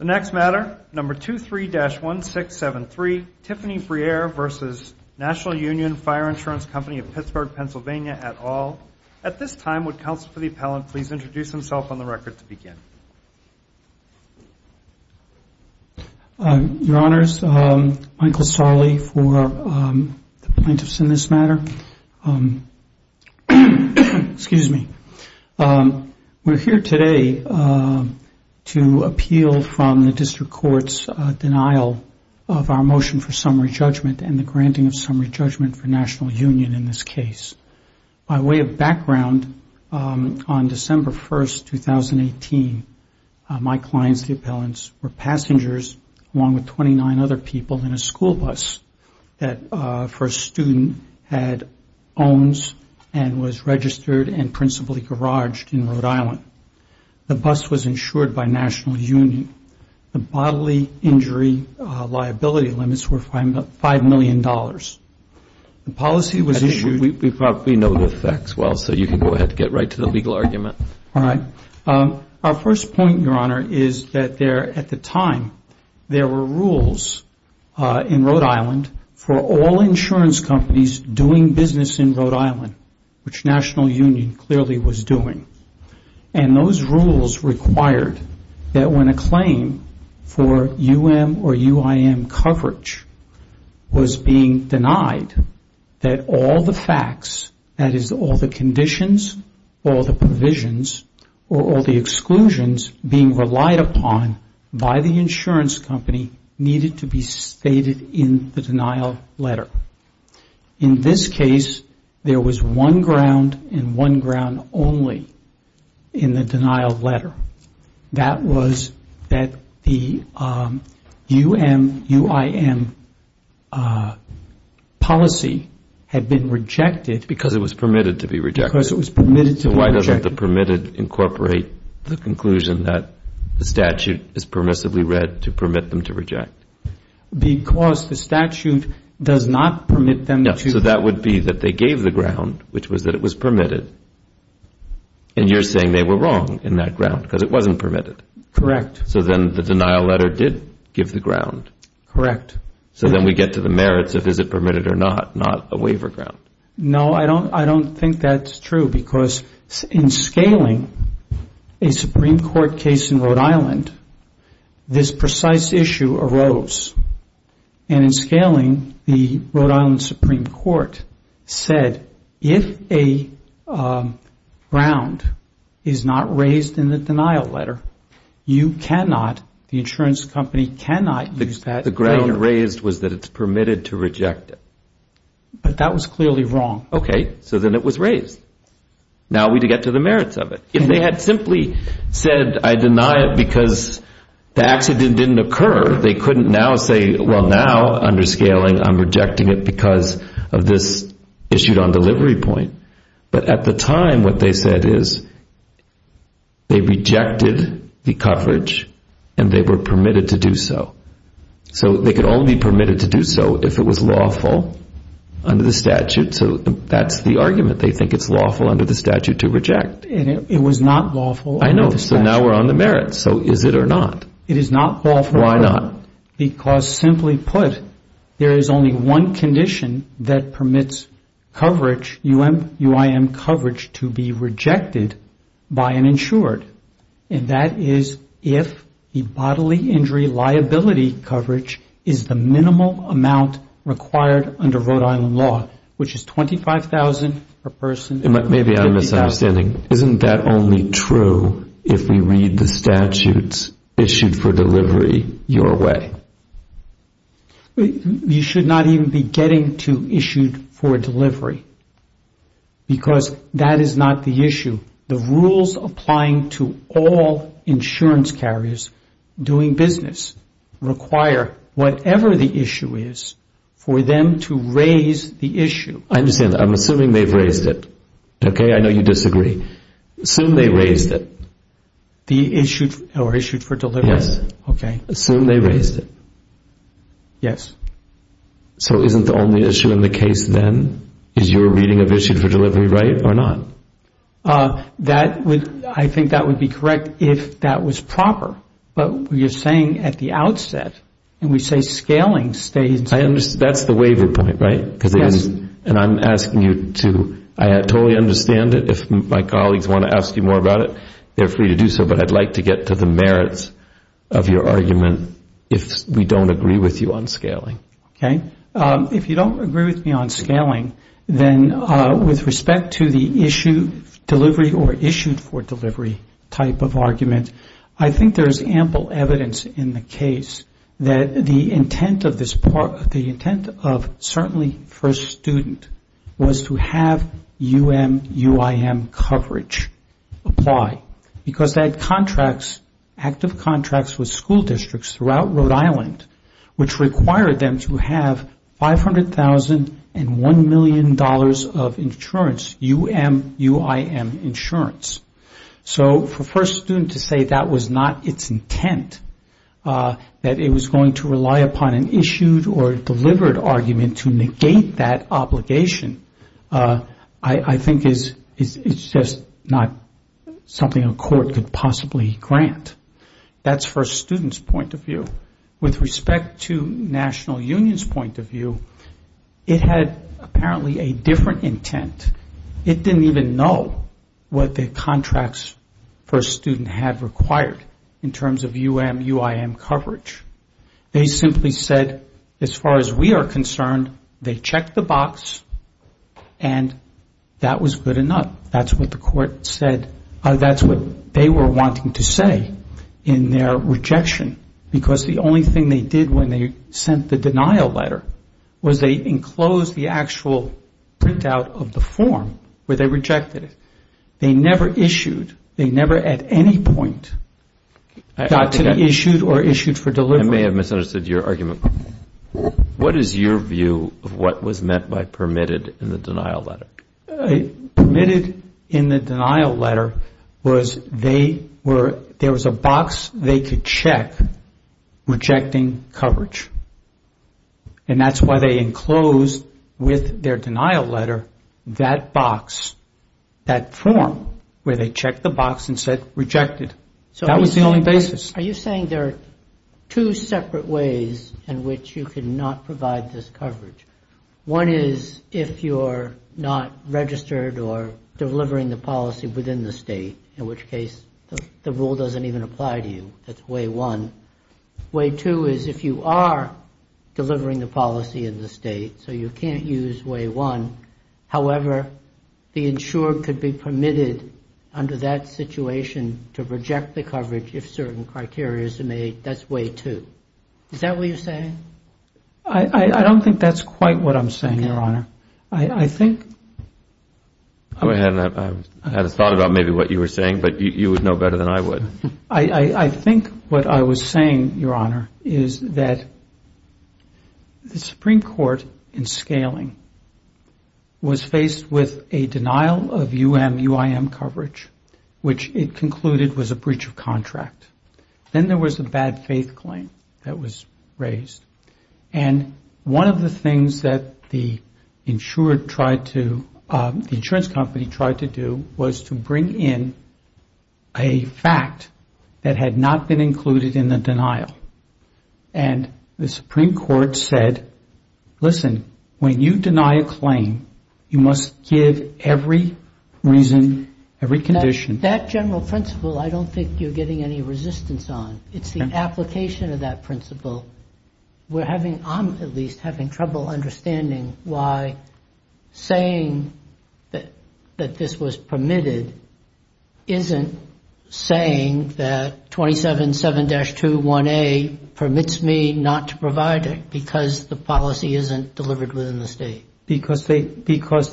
At this time, would counsel for the appellant please introduce himself on the record to begin? Your Honors, Michael Sarli for the plaintiffs in this matter. Excuse me. We're here today to talk about the appeal from the district court's denial of our motion for summary judgment and the granting of summary judgment for National Union in this case. By way of background, on December 1, 2018, my clients, the appellants, were passengers along with 29 other people in a school bus that for a student had owns and was registered and principally garaged in Rhode Island. The bus was insured by National Union. The bodily injury liability limits were $5 million. The policy was issued... Our first point, Your Honor, is that at the time there were rules in Rhode Island for all insurance companies doing business in Rhode Island, which National Union clearly was doing. And those rules required that when a claim for U.M. or U.I.M. coverage was being denied, that all the facts, that is all the conditions, all the provisions, or all the exclusions being relied upon by the insurance company needed to be stated in the denial letter. In this case, there was one ground and one ground only in the denial letter. That was that the U.M. U.I.M. policy had been rejected... Because it was permitted to be rejected. Why doesn't the permitted incorporate the conclusion that the statute is permissively read to permit them to reject? Because the statute does not permit them to. So that would be that they gave the ground, which was that it was permitted, and you're saying they were wrong in that ground because it wasn't permitted. Correct. So then the denial letter did give the ground. Correct. So then we get to the merits of is it permitted or not, not a waiver ground. The court said if a ground is not raised in the denial letter, you cannot, the insurance company cannot use that ground. The ground raised was that it's permitted to reject it. But that was clearly wrong. Okay. So then it was raised. Now we get to the merits of it. If they had simply said I deny it because the accident didn't occur, they couldn't now say, well, now under scaling I'm rejecting it because of this issued on delivery point. But at the time what they said is they rejected the coverage and they were permitted to do so. So they could only permit it to do so if it was lawful under the statute. So that's the argument. They think it's lawful under the statute to reject. It was not lawful under the statute. I know. So now we're on the merits. So is it or not? It is not lawful or not. Why not? Because simply put, there is only one condition that permits coverage, UIM coverage to be rejected by an insured. And that is if the bodily injury liability coverage is the minimal amount required under Rhode Island law, which is $25,000 per person. Maybe I'm misunderstanding. Isn't that only true if we read the statutes issued for delivery your way? You should not even be getting to issued for delivery because that is not the issue. The rules applying to all insurance carriers doing business require whatever the issue is for them to raise the issue. I understand that. I'm assuming they've raised it. Okay? I know you disagree. Assume they raised it. The issued or issued for delivery? Yes. So isn't the only issue in the case then is your reading of issued for delivery right or not? I think that would be correct if that was proper. But you're saying at the outset and we say scaling stays. That's the waiver point, right? And I'm asking you to, I totally understand it. If my colleagues want to ask you more about it, they're free to do so. But I'd like to get to the merits of your argument if we don't agree with you on scaling. Okay. If you don't agree with me on scaling, then with respect to the issued delivery or issued for delivery type of argument, I think there's ample evidence in the case that the intent of this part, the intent of certainly first student was to have UMUIM coverage apply because they had contracts, active contracts with school districts throughout Rhode Island, which required them to have $500,001 million of insurance, UMUIM insurance. So for first student to say that was not its intent, that it was going to rely upon an issued or delivered argument to negate that obligation, I think it's just not something a court could possibly grant. That's first student's point of view. With respect to national union's point of view, it had apparently a different intent. It didn't even know what the contracts first student had required in terms of UMUIM coverage. They simply said, as far as we are concerned, they checked the box and that was good enough. That's what the court said. That's what they were wanting to say in their rejection. Because the only thing they did when they sent the denial letter was they enclosed the actual printout of the first form where they rejected it. They never issued, they never at any point got to the issued or issued for delivery. I may have misunderstood your argument. What is your view of what was meant by permitted in the denial letter? Permitted in the denial letter was they were, there was a box they could check rejecting coverage. And that's why they enclosed with their denial letter that box, that form where they checked the box and said rejected. That was the only basis. Are you saying there are two separate ways in which you could not provide this coverage? One is if you're not registered or delivering the policy within the state, in which case the rule doesn't even apply to you. That's way one. Way two is if you are delivering the policy in the state, so you can't use way one. However, the insured could be permitted under that situation to reject the coverage if certain criteria is made. That's way two. Is that what you're saying? I don't think that's quite what I'm saying, Your Honor. Go ahead. I had a thought about maybe what you were saying, but you would know better than I would. I think what I was saying, Your Honor, is that the Supreme Court in scaling was faced with a denial of U.M., U.I.M. coverage, which it concluded was a breach of contract. Then there was a bad faith claim that was raised. One of the things that the insurance company tried to do was to bring in a fact that had not been included in the denial. And the Supreme Court said, listen, when you deny a claim, you must give every reason, every condition. That general principle I don't think you're getting any resistance on. It's the application of that principle. We're having, I'm at least having trouble understanding why saying that this was permitted isn't saying that 277-21A permits me not to provide it because the policy isn't delivered within the state. Because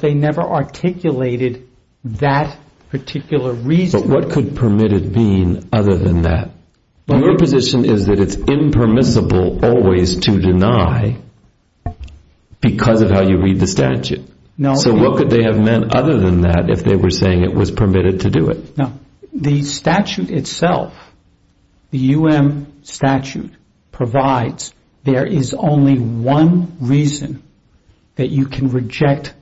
they never articulated that particular reason. What could permitted mean other than that? Your position is that it's impermissible always to deny because of how you read the statute. So what could they have meant other than that if they were saying it was permitted to do it? The statute itself, the U.M. statute, provides there is only one reason that you can reject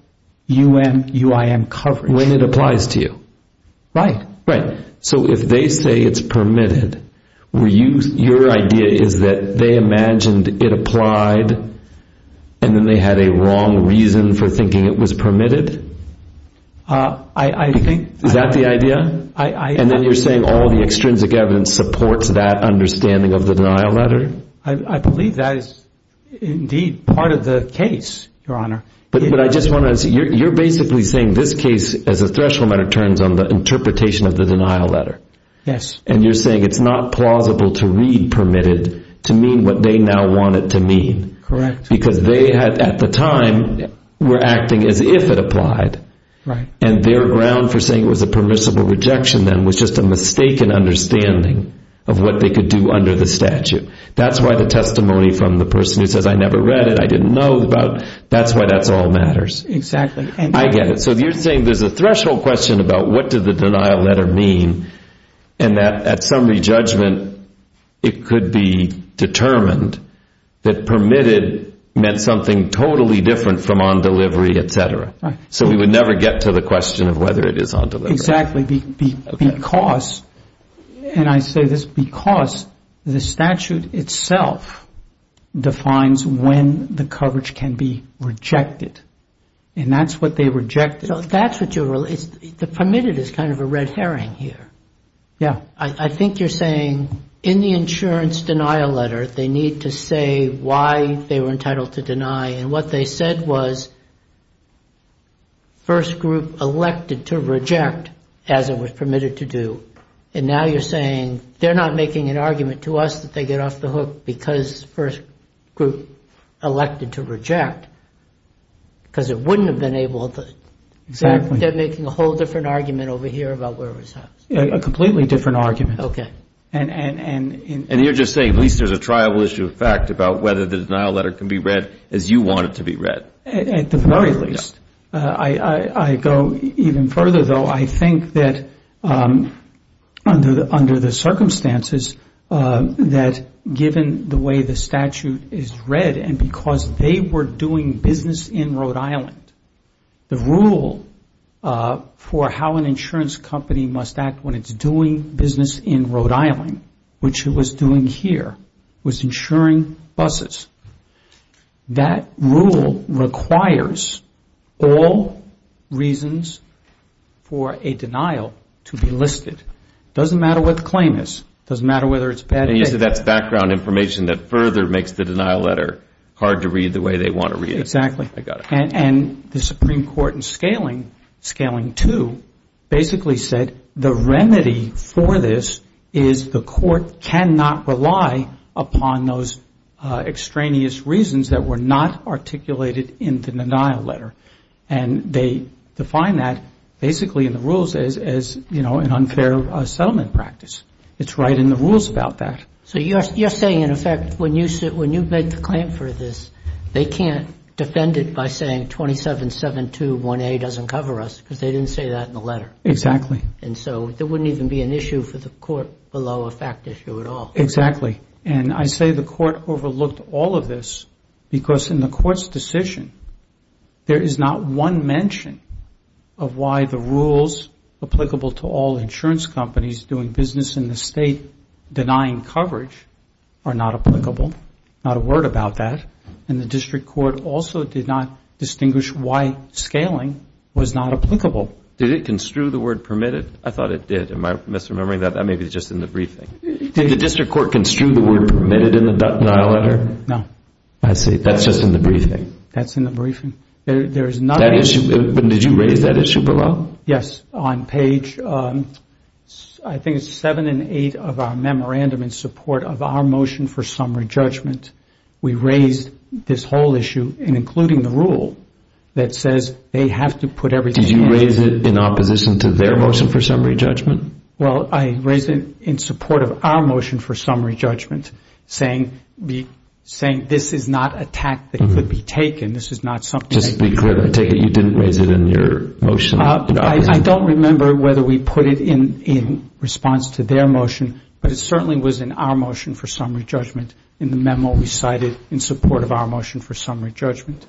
U.M., U.I.M. coverage. And when it applies to you. Right. So if they say it's permitted, your idea is that they imagined it applied and then they had a wrong reason for thinking it was permitted? Is that the idea? And then you're saying all the extrinsic evidence supports that understanding of the denial letter? I believe that is indeed part of the case, Your Honor. But I just want to say, you're basically saying this case as a threshold matter turns on the interpretation of the denial letter. Yes. And you're saying it's not plausible to read permitted to mean what they now want it to mean. Correct. Because they had at the time were acting as if it applied. And their ground for saying it was a permissible rejection then was just a mistaken understanding of what they could do under the statute. That's why the testimony from the person who says I never read it, I didn't know about. That's why that's all matters. Exactly. I get it. So you're saying there's a threshold question about what did the denial letter mean and that at summary judgment it could be determined that permitted meant something totally different from on delivery, et cetera. So we would never get to the question of whether it is on delivery. Exactly. And I say this because the statute itself defines when the coverage can be rejected. And that's what they rejected. So that's what you're, the permitted is kind of a red herring here. Yeah. I think you're saying in the insurance denial letter they need to say why they were entitled to deny and what they said was first group elected to reject as it was permitted to do. And now you're saying they're not making an argument to us that they get off the hook because first group elected to reject. Because it wouldn't have been able to, they're making a whole different argument over here about where it was housed. A completely different argument. And you're just saying at least there's a triable issue of fact about whether the denial letter can be read as you want it to be read. At the very least. I go even further, though. I think that under the circumstances that given the way the statute is read and because they were doing business in Rhode Island, the rule for how an insurance company must act when it's doing business in Rhode Island, which it was doing here, was insuring buses. That rule requires all reasons for an insurance company to be able to do business in Rhode Island. It requires all reasons for a denial to be listed. Doesn't matter what the claim is. Doesn't matter whether it's a bad case. And you said that's background information that further makes the denial letter hard to read the way they want to read it. Exactly. And the Supreme Court in scaling, scaling two, basically said the remedy for this is the court cannot rely upon those extraneous reasons that were not articulated in the denial letter. And they define that basically in the rules as, you know, an unfair settlement practice. It's right in the rules about that. So you're saying, in effect, when you make the claim for this, they can't defend it by saying 27721A doesn't cover us because they didn't say that in the letter. Exactly. And so there wouldn't even be an issue for the court below a fact issue at all. Exactly. And I say the court overlooked all of this because in the court's decision, there is not one mention of why the rules applicable to all insurance companies doing business in the state denying coverage are not applicable. Not a word about that. And the district court also did not distinguish why scaling was not applicable. Did it construe the word permitted? I thought it did. Am I misremembering that? That may be just in the briefing. Did the district court construe the word permitted in the denial letter? No. I see. That's just in the briefing. That's in the briefing. Did you raise that issue below? Yes, on page, I think it's seven and eight of our memorandum in support of our motion for summary judgment. We raised this whole issue, including the rule that says they have to put everything in. Did you raise it in opposition to their motion for summary judgment? Well, I raised it in support of our motion for summary judgment, saying this is not a tact that could be taken. Just to be clear, I take it you didn't raise it in your motion? I don't remember whether we put it in response to their motion, but it certainly was in our motion for summary judgment in the memo we cited in support of our motion for summary judgment.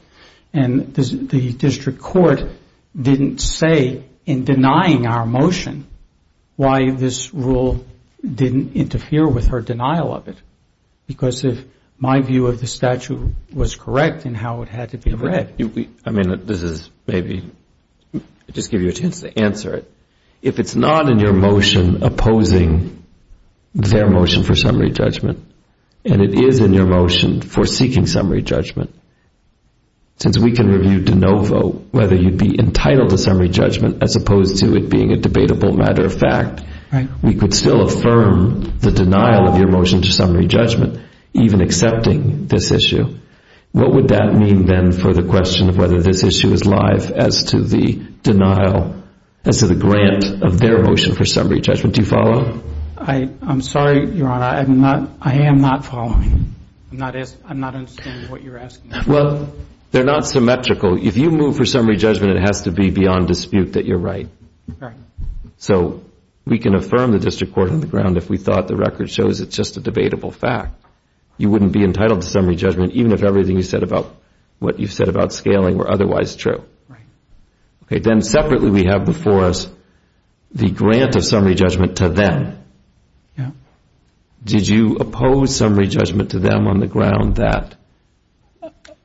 And the district court didn't say in denying our motion why this rule didn't interfere with her denial of it. Because my view of the statute was correct in how it had to be read. I mean, this is maybe, I'll just give you a chance to answer it. If it's not in your motion opposing their motion for summary judgment, and it is in your motion for seeking summary judgment, since we can review de novo whether you'd be entitled to summary judgment as opposed to it being a debatable matter of fact, we could still affirm the denial of your motion to summary judgment, even accepting this issue. What would that mean, then, for the question of whether this issue is live as to the denial, as to the grant of their motion for summary judgment? Do you follow? I'm sorry, Your Honor, I am not following. I'm not understanding what you're asking. Well, they're not symmetrical. If you move for summary judgment, it has to be beyond dispute that you're right. So we can affirm the district court on the ground if we thought the record shows it's just a debatable fact. You wouldn't be entitled to summary judgment even if everything you said about what you said about scaling were otherwise true. Then separately we have before us the grant of summary judgment to them. Did you oppose summary judgment to them on the ground that?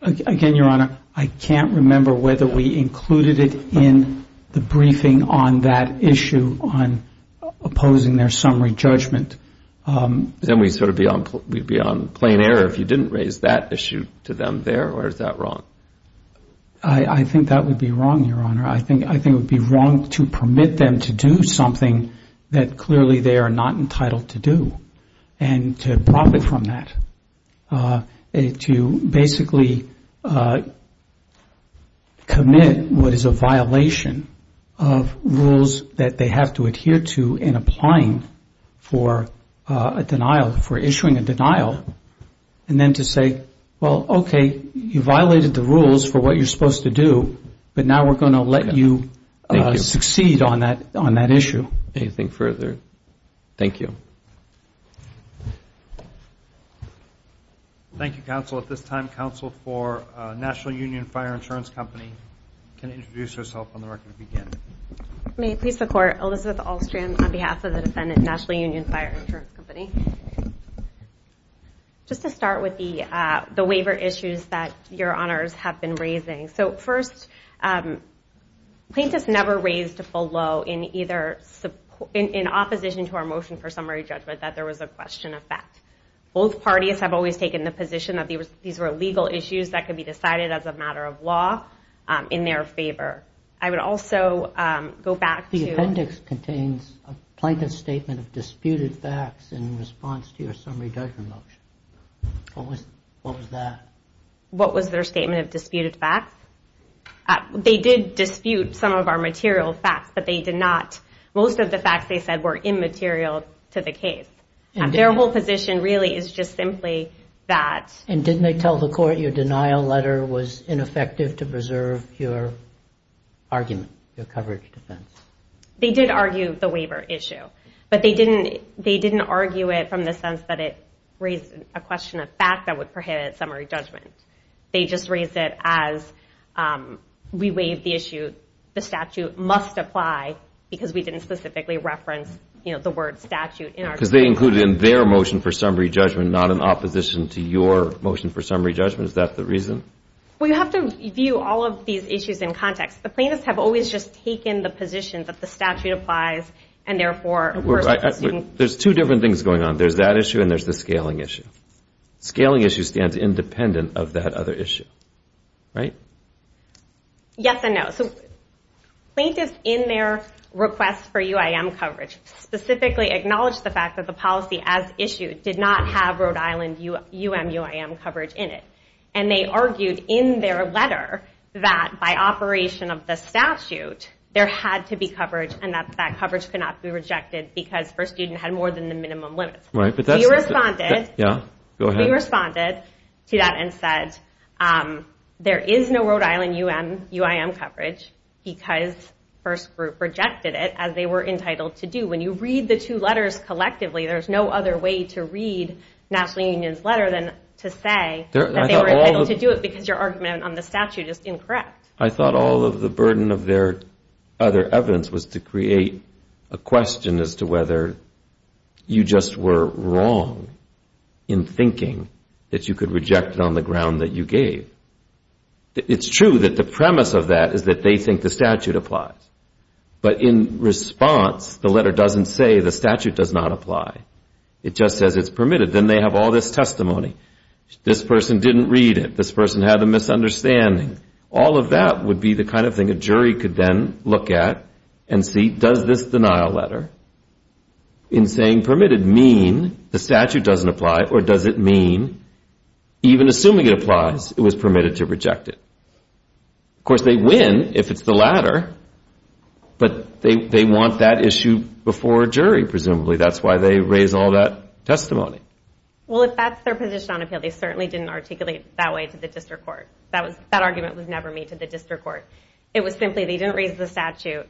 Again, Your Honor, I can't remember whether we included it in the briefing on that issue, on opposing their summary judgment. Then we'd be on plain error if you didn't raise that issue to them there, or is that wrong? I think that would be wrong, Your Honor. I think it would be wrong to permit them to do something that clearly they are entitled to. And to profit from that. To basically commit what is a violation of rules that they have to adhere to in applying for a denial, for issuing a denial. And then to say, well, okay, you violated the rules for what you're supposed to do, but now we're going to let you succeed on that issue. Anything further? Thank you. Thank you, counsel. At this time, counsel for National Union Fire Insurance Company can introduce herself on the record to begin. May it please the Court, Elizabeth Ahlstrom on behalf of the defendant, National Union Fire Insurance Company. Just to start with the waiver issues that Your Honors have been raising. First, plaintiffs never raised a full law in opposition to our motion for summary judgment that there was a question of facts. Both parties have always taken the position that these were legal issues that could be decided as a matter of law in their favor. I would also go back to... A plaintiff's statement of disputed facts in response to your summary judgment motion. What was that? What was their statement of disputed facts? They did dispute some of our material facts, but most of the facts they said were immaterial to the case. Their whole position really is just simply that... And didn't they tell the Court your denial letter was ineffective to preserve your argument, your coverage defense? They did argue the waiver issue, but they didn't argue it from the sense that it raised a question of facts that would prohibit summary judgment. They just raised it as we waived the issue. The statute must apply because we didn't specifically reference the word statute. Because they included it in their motion for summary judgment, not in opposition to your motion for summary judgment. Is that the reason? Well, you have to view all of these issues in context. The plaintiffs have always just taken the position that the statute applies and therefore... There's two different things going on. There's that issue and there's the scaling issue. Scaling issue stands independent of that other issue, right? Yes and no. Plaintiffs in their request for UIM coverage specifically acknowledged the fact that the policy as issued did not have Rhode Island UMUIM coverage in it. And they argued in their letter that by operation of the statute, there had to be coverage and that that coverage could not be rejected because First Student had more than the minimum limits. We responded to that and said, there is no Rhode Island UIM coverage because First Group rejected it as they were entitled to do. When you read the two letters collectively, there's no other way to read National Union's letter than to say that they were entitled to do it because your argument on the statute is incorrect. I thought all of the burden of their other evidence was to create a question as to whether you just were wrong. In thinking that you could reject it on the ground that you gave. It's true that the premise of that is that they think the statute applies. But in response, the letter doesn't say the statute does not apply. It just says it's permitted. Then they have all this testimony. This person didn't read it. This person had a misunderstanding. All of that would be the kind of thing a jury could then look at and see, does this denial letter in saying permitted mean the statute doesn't apply? Or does it mean even assuming it applies, it was permitted to reject it? Of course, they win if it's the latter. But they want that issue before a jury, presumably. That's why they raise all that testimony. Well, if that's their position on appeal, they certainly didn't articulate it that way to the district court. That argument was never made to the district court. It was simply they didn't raise the statute.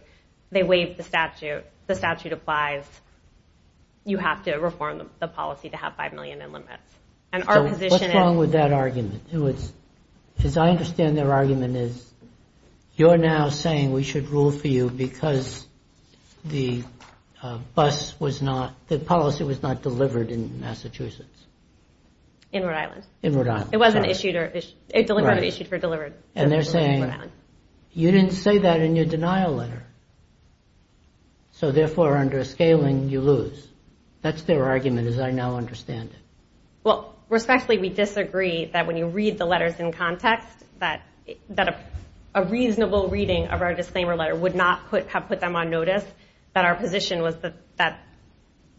They waived the statute. The statute applies. You have to reform the policy to have $5 million in limits. What's wrong with that argument? As I understand their argument, you're now saying we should rule for you because the policy was not delivered in Massachusetts. In Rhode Island. And they're saying you didn't say that in your denial letter. So therefore, under a scaling, you lose. That's their argument as I now understand it. Respectfully, we disagree that when you read the letters in context, that a reasonable reading of our disclaimer letter would not have put them on notice, that our position was that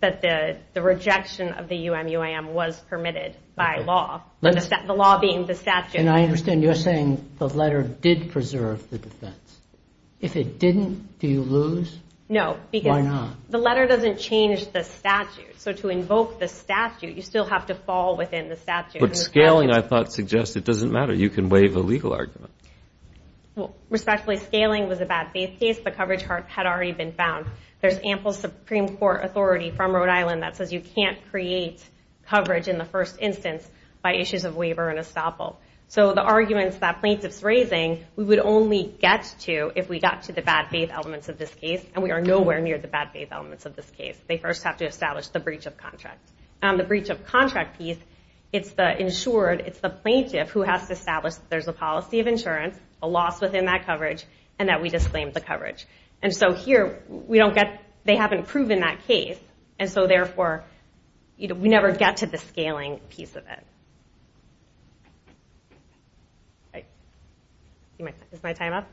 the rejection of the UMUAM was permitted by law. The law being the statute. And I understand you're saying the letter did preserve the defense. If it didn't, do you lose? No, because the letter doesn't change the statute. So to invoke the statute, you still have to fall within the statute. But scaling, I thought, suggests it doesn't matter. You can waive a legal argument. Respectfully, scaling was a bad faith case. The coverage had already been found. There's ample Supreme Court authority from Rhode Island that says you can't create coverage in the first instance by issues of waiver and estoppel. So the arguments that plaintiff's raising, we would only get to if we got to the bad faith elements of this case. And we are nowhere near the bad faith elements of this case. They first have to establish the breach of contract. And so here, we don't get, they haven't proven that case. And so therefore, we never get to the scaling piece of it. Is my time up?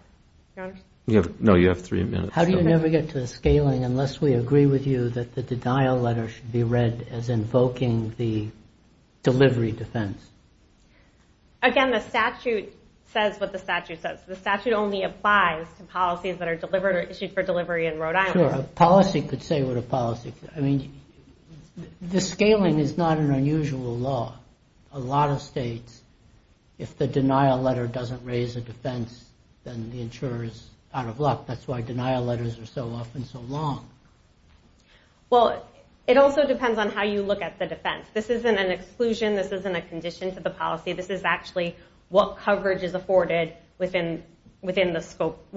No, you have three minutes. How do you never get to the scaling unless we agree with you that the denial letter should be read as invoking the delivery defense? Again, the statute says what the statute says. The statute only applies to policies that are issued for delivery in Rhode Island. Sure, a policy could say what a policy could. I mean, the scaling is not an unusual law. A lot of states, if the denial letter doesn't raise a defense, then the insurer is out of luck. That's why denial letters are so often so long. Well, it also depends on how you look at the defense. This isn't an exclusion. This isn't a condition to the policy. This is actually what is covered within the scope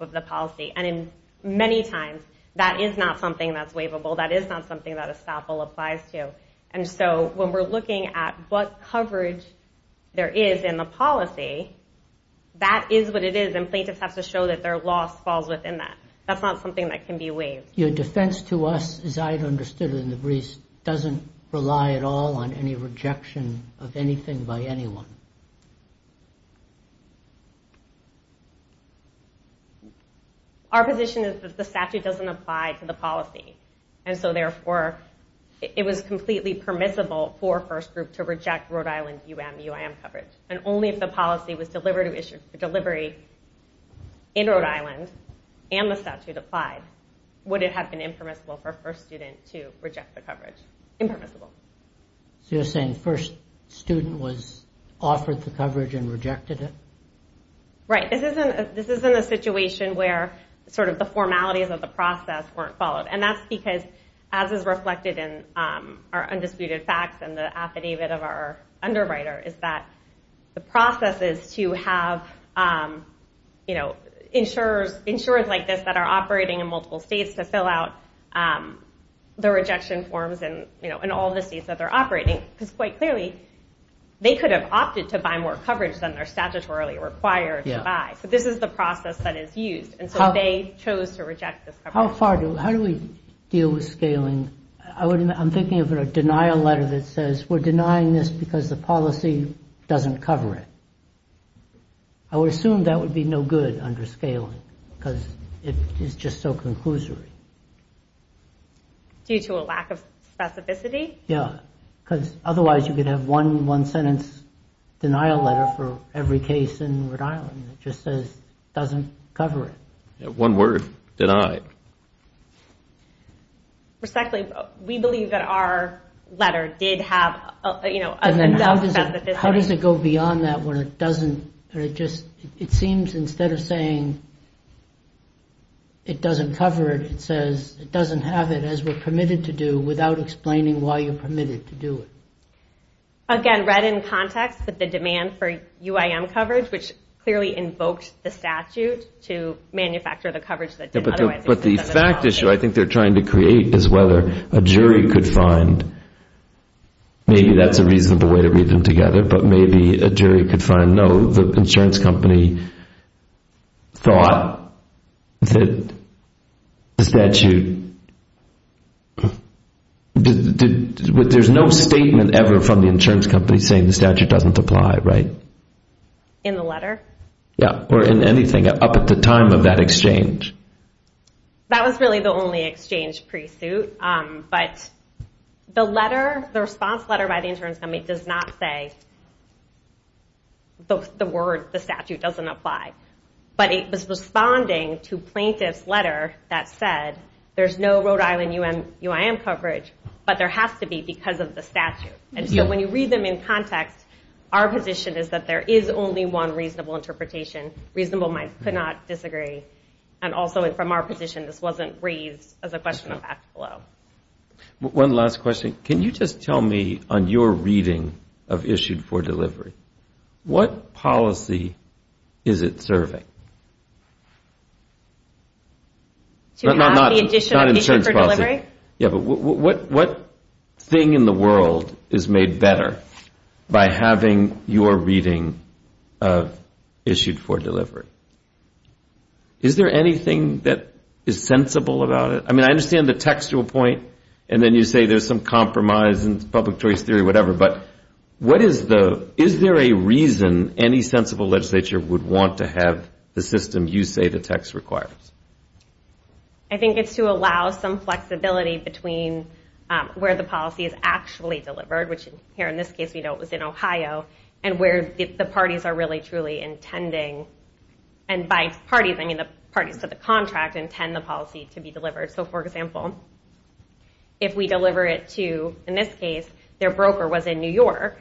of the policy. And many times, that is not something that's waivable. That is not something that estoppel applies to. And so when we're looking at what coverage there is in the policy, that is what it is. And plaintiffs have to show that their loss falls within that. That's not something that can be waived. Our position is that the statute doesn't apply to the policy. And so therefore, it was completely permissible for a first group to reject Rhode Island UM-UIM coverage. And only if the policy was delivered to issue for delivery in Rhode Island, and the statute applied, would it have been impermissible for a first student to reject the coverage. Impermissible. So you're saying the first student was offered the coverage and rejected it? Right. This isn't a situation where the formalities of the process weren't followed. And that's because, as is reflected in our undisputed facts and the affidavit of our underwriter, is that the process is to have insurers like this that are operating in multiple states to fill out the rejection forms in all the states that they're operating. Because quite clearly, they could have opted to buy more coverage than they're statutorily required to buy. So this is the process that is used. And so they chose to reject this coverage. How do we deal with scaling? I'm thinking of a denial letter that says, we're denying this because the policy doesn't cover it. I would assume that would be no good under scaling, because it is just so conclusory. Due to a lack of specificity? Yeah. Because otherwise, you could have one one-sentence denial letter for every case in Rhode Island that just says it doesn't cover it. Respectfully, we believe that our letter did have enough specificity. How does it go beyond that, where it seems instead of saying it doesn't cover it, it says it doesn't have it, as we're permitted to do, without explaining why you're permitted to do it? Again, read in context that the demand for UIM coverage, which clearly invoked the statute to manufacture the coverage that didn't otherwise exist. But the fact issue I think they're trying to create is whether a jury could find, maybe that's a reasonable way to read them together, but maybe a jury could find, no, the insurance company thought that the statute, there's no statement ever from the insurance company saying the statute doesn't apply, right? In the letter? Yeah, or in anything up at the time of that exchange. That was really the only exchange pre-suit, but the letter, the response letter by the insurance company does not say the word, the statute doesn't apply. But it was responding to plaintiff's letter that said there's no Rhode Island UIM coverage, but there has to be because of the statute. And so when you read them in context, our position is that there is only one reasonable interpretation. Reasonable might not disagree, and also from our position, this wasn't raised as a question of act below. One last question, can you just tell me on your reading of issued for delivery, what policy is it serving? Not insurance policy. What thing in the world is made better by having your reading of issued for delivery? Is there anything that is sensible about it? I mean, I understand the textual point, and then you say there's some compromise in public choice theory or whatever, but is there a reason any sensible legislature would want to have the system you say the text requires? I think it's to allow some flexibility between where the policy is actually delivered, which here in this case we know it was in Ohio, and by parties, I mean the parties to the contract intend the policy to be delivered. So for example, if we deliver it to, in this case, their broker was in New York,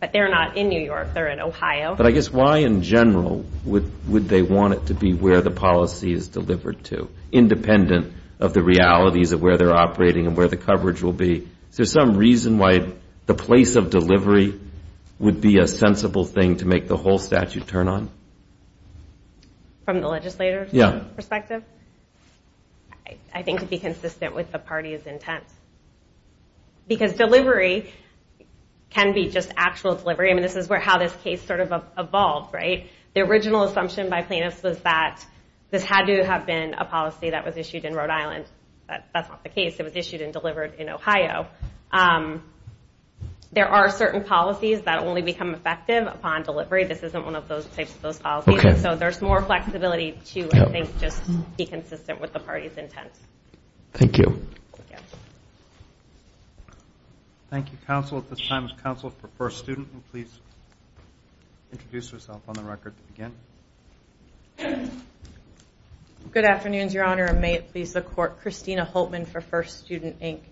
but they're not in New York, they're in Ohio. But I guess why in general would they want it to be where the policy is delivered to, independent of the realities of where they're operating and where the coverage will be? Is there some reason why the place of delivery would be a sensible thing to make the whole statute turn on? From the legislature's perspective? I think to be consistent with the party's intent. Because delivery can be just actual delivery. I mean, this is how this case sort of evolved, right? The original assumption by plaintiffs was that this had to have been a policy that was issued in Rhode Island. That's not the case. It was issued and delivered in Ohio. There are certain policies that only become effective upon delivery. This isn't one of those types of policies. So there's more flexibility to just be consistent with the party's intent. Thank you. Thank you, counsel. At this time, it's counsel for First Student. Good afternoon, Your Honor, and may it please the Court. Christina Holtman for First Student, Inc.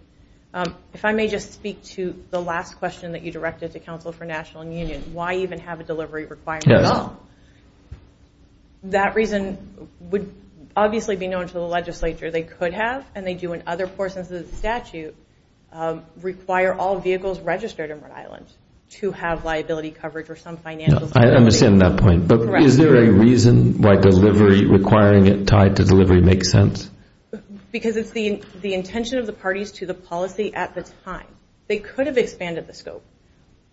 If I may just speak to the last question that you directed to counsel for National and Union. Why even have a delivery requirement at all? That reason would obviously be known to the legislature. They could have, and they do in other portions of the statute, require all vehicles registered in Rhode Island to have liability coverage or some financial... I understand that point, but is there a reason why requiring it tied to delivery makes sense? Because it's the intention of the parties to the policy at the time. They could have expanded the scope.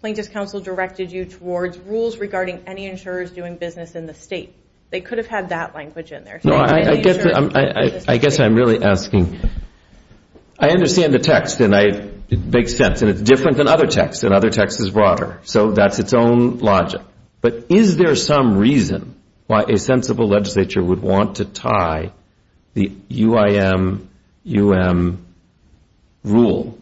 Plaintiffs' counsel directed you towards rules regarding any insurers doing business in the state. They could have had that language in there. I guess I'm really asking... I understand the text, and it makes sense. And it's different than other texts, and other texts is broader. So that's its own logic. But is there some reason why a sensible legislature would want to tie the UIM-UM rule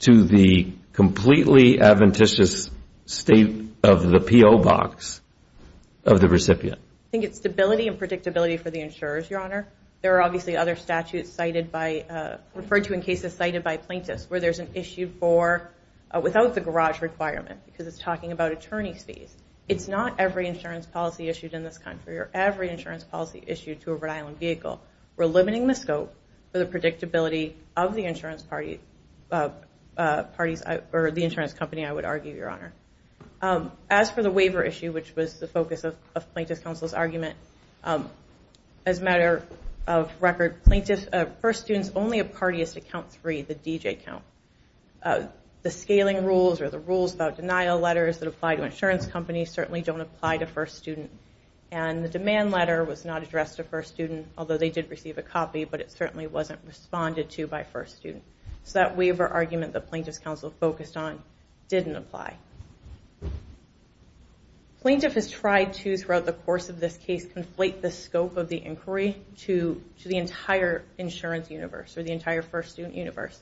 to the completely adventitious state of the PO box of the recipient? I think it's stability and predictability for the insurers, Your Honor. There are obviously other statutes referred to in cases cited by plaintiffs where there's an issue for... without the garage requirement, because it's talking about attorney's fees. It's not every insurance policy issued in this country or every insurance policy issued to a Rhode Island vehicle. We're limiting the scope for the predictability of the insurance party... or the insurance company, I would argue, Your Honor. As for the waiver issue, which was the focus of plaintiffs' counsel's argument, as a matter of record, plaintiffs... first students only have parties to count three, the DJ count. The scaling rules or the rules about denial letters that apply to insurance companies certainly don't apply to first students. And the demand letter was not addressed to first students, although they did receive a copy, but it certainly wasn't responded to by first students. So that waiver argument that plaintiffs' counsel focused on didn't apply. Plaintiff has tried to, throughout the course of this case, conflate the scope of the inquiry to the entire insurance universe or the entire first student universe.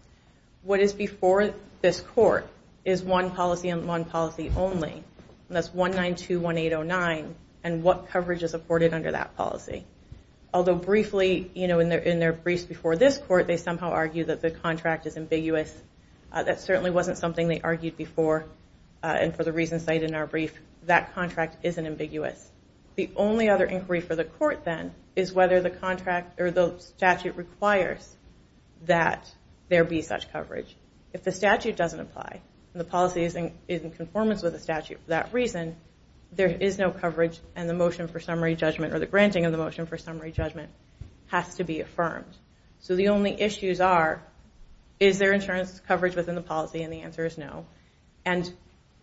What is before this court is one policy and one policy only, and that's 192.1809, and what coverage is afforded under that policy. Although briefly, in their briefs before this court, they somehow argued that the contract is ambiguous. That certainly wasn't something they argued before, and for the reasons cited in our brief, that contract isn't ambiguous. The only other inquiry for the court, then, is whether the statute requires that there be such coverage. If the statute doesn't apply, and the policy is in conformance with the statute for that reason, there is no coverage, and the motion for summary judgment, or the granting of the motion for summary judgment, has to be affirmed. So the only issues are, is there insurance coverage within the policy? And the answer is no. And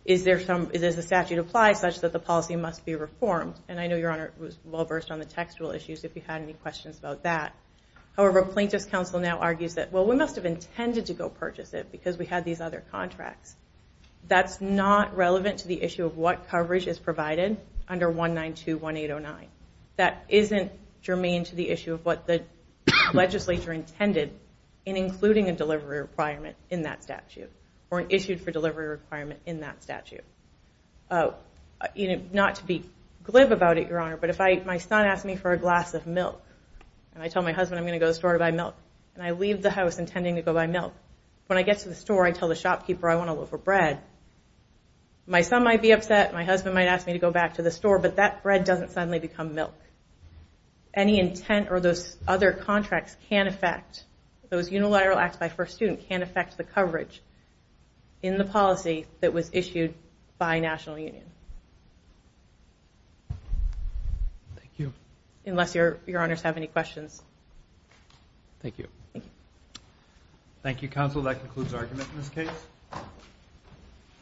does the statute apply such that the policy must be reformed? And I know Your Honor was well-versed on the textual issues, if you had any questions about that. However, Plaintiff's counsel now argues that, well, we must have intended to go purchase it because we had these other contracts. That's not relevant to the issue of what coverage is provided under 192.1809. That isn't germane to the issue of what the legislature intended in including a delivery requirement in that statute, or issued for delivery requirement in that statute. Not to be glib about it, Your Honor, but if my son asks me for a glass of milk, and I tell my husband I'm going to go to the store to buy milk, and I leave the house intending to go buy milk, when I get to the store, I tell the shopkeeper I want a loaf of bread, my son might be upset, my husband might ask me to go back to the store, but that bread doesn't suddenly become milk. Any intent or those other contracts can affect, those unilateral acts by First Student, can affect the coverage in the policy that was issued by National Union. Thank you. Unless Your Honors have any questions. Thank you. Thank you, Counsel. That concludes our argument in this case.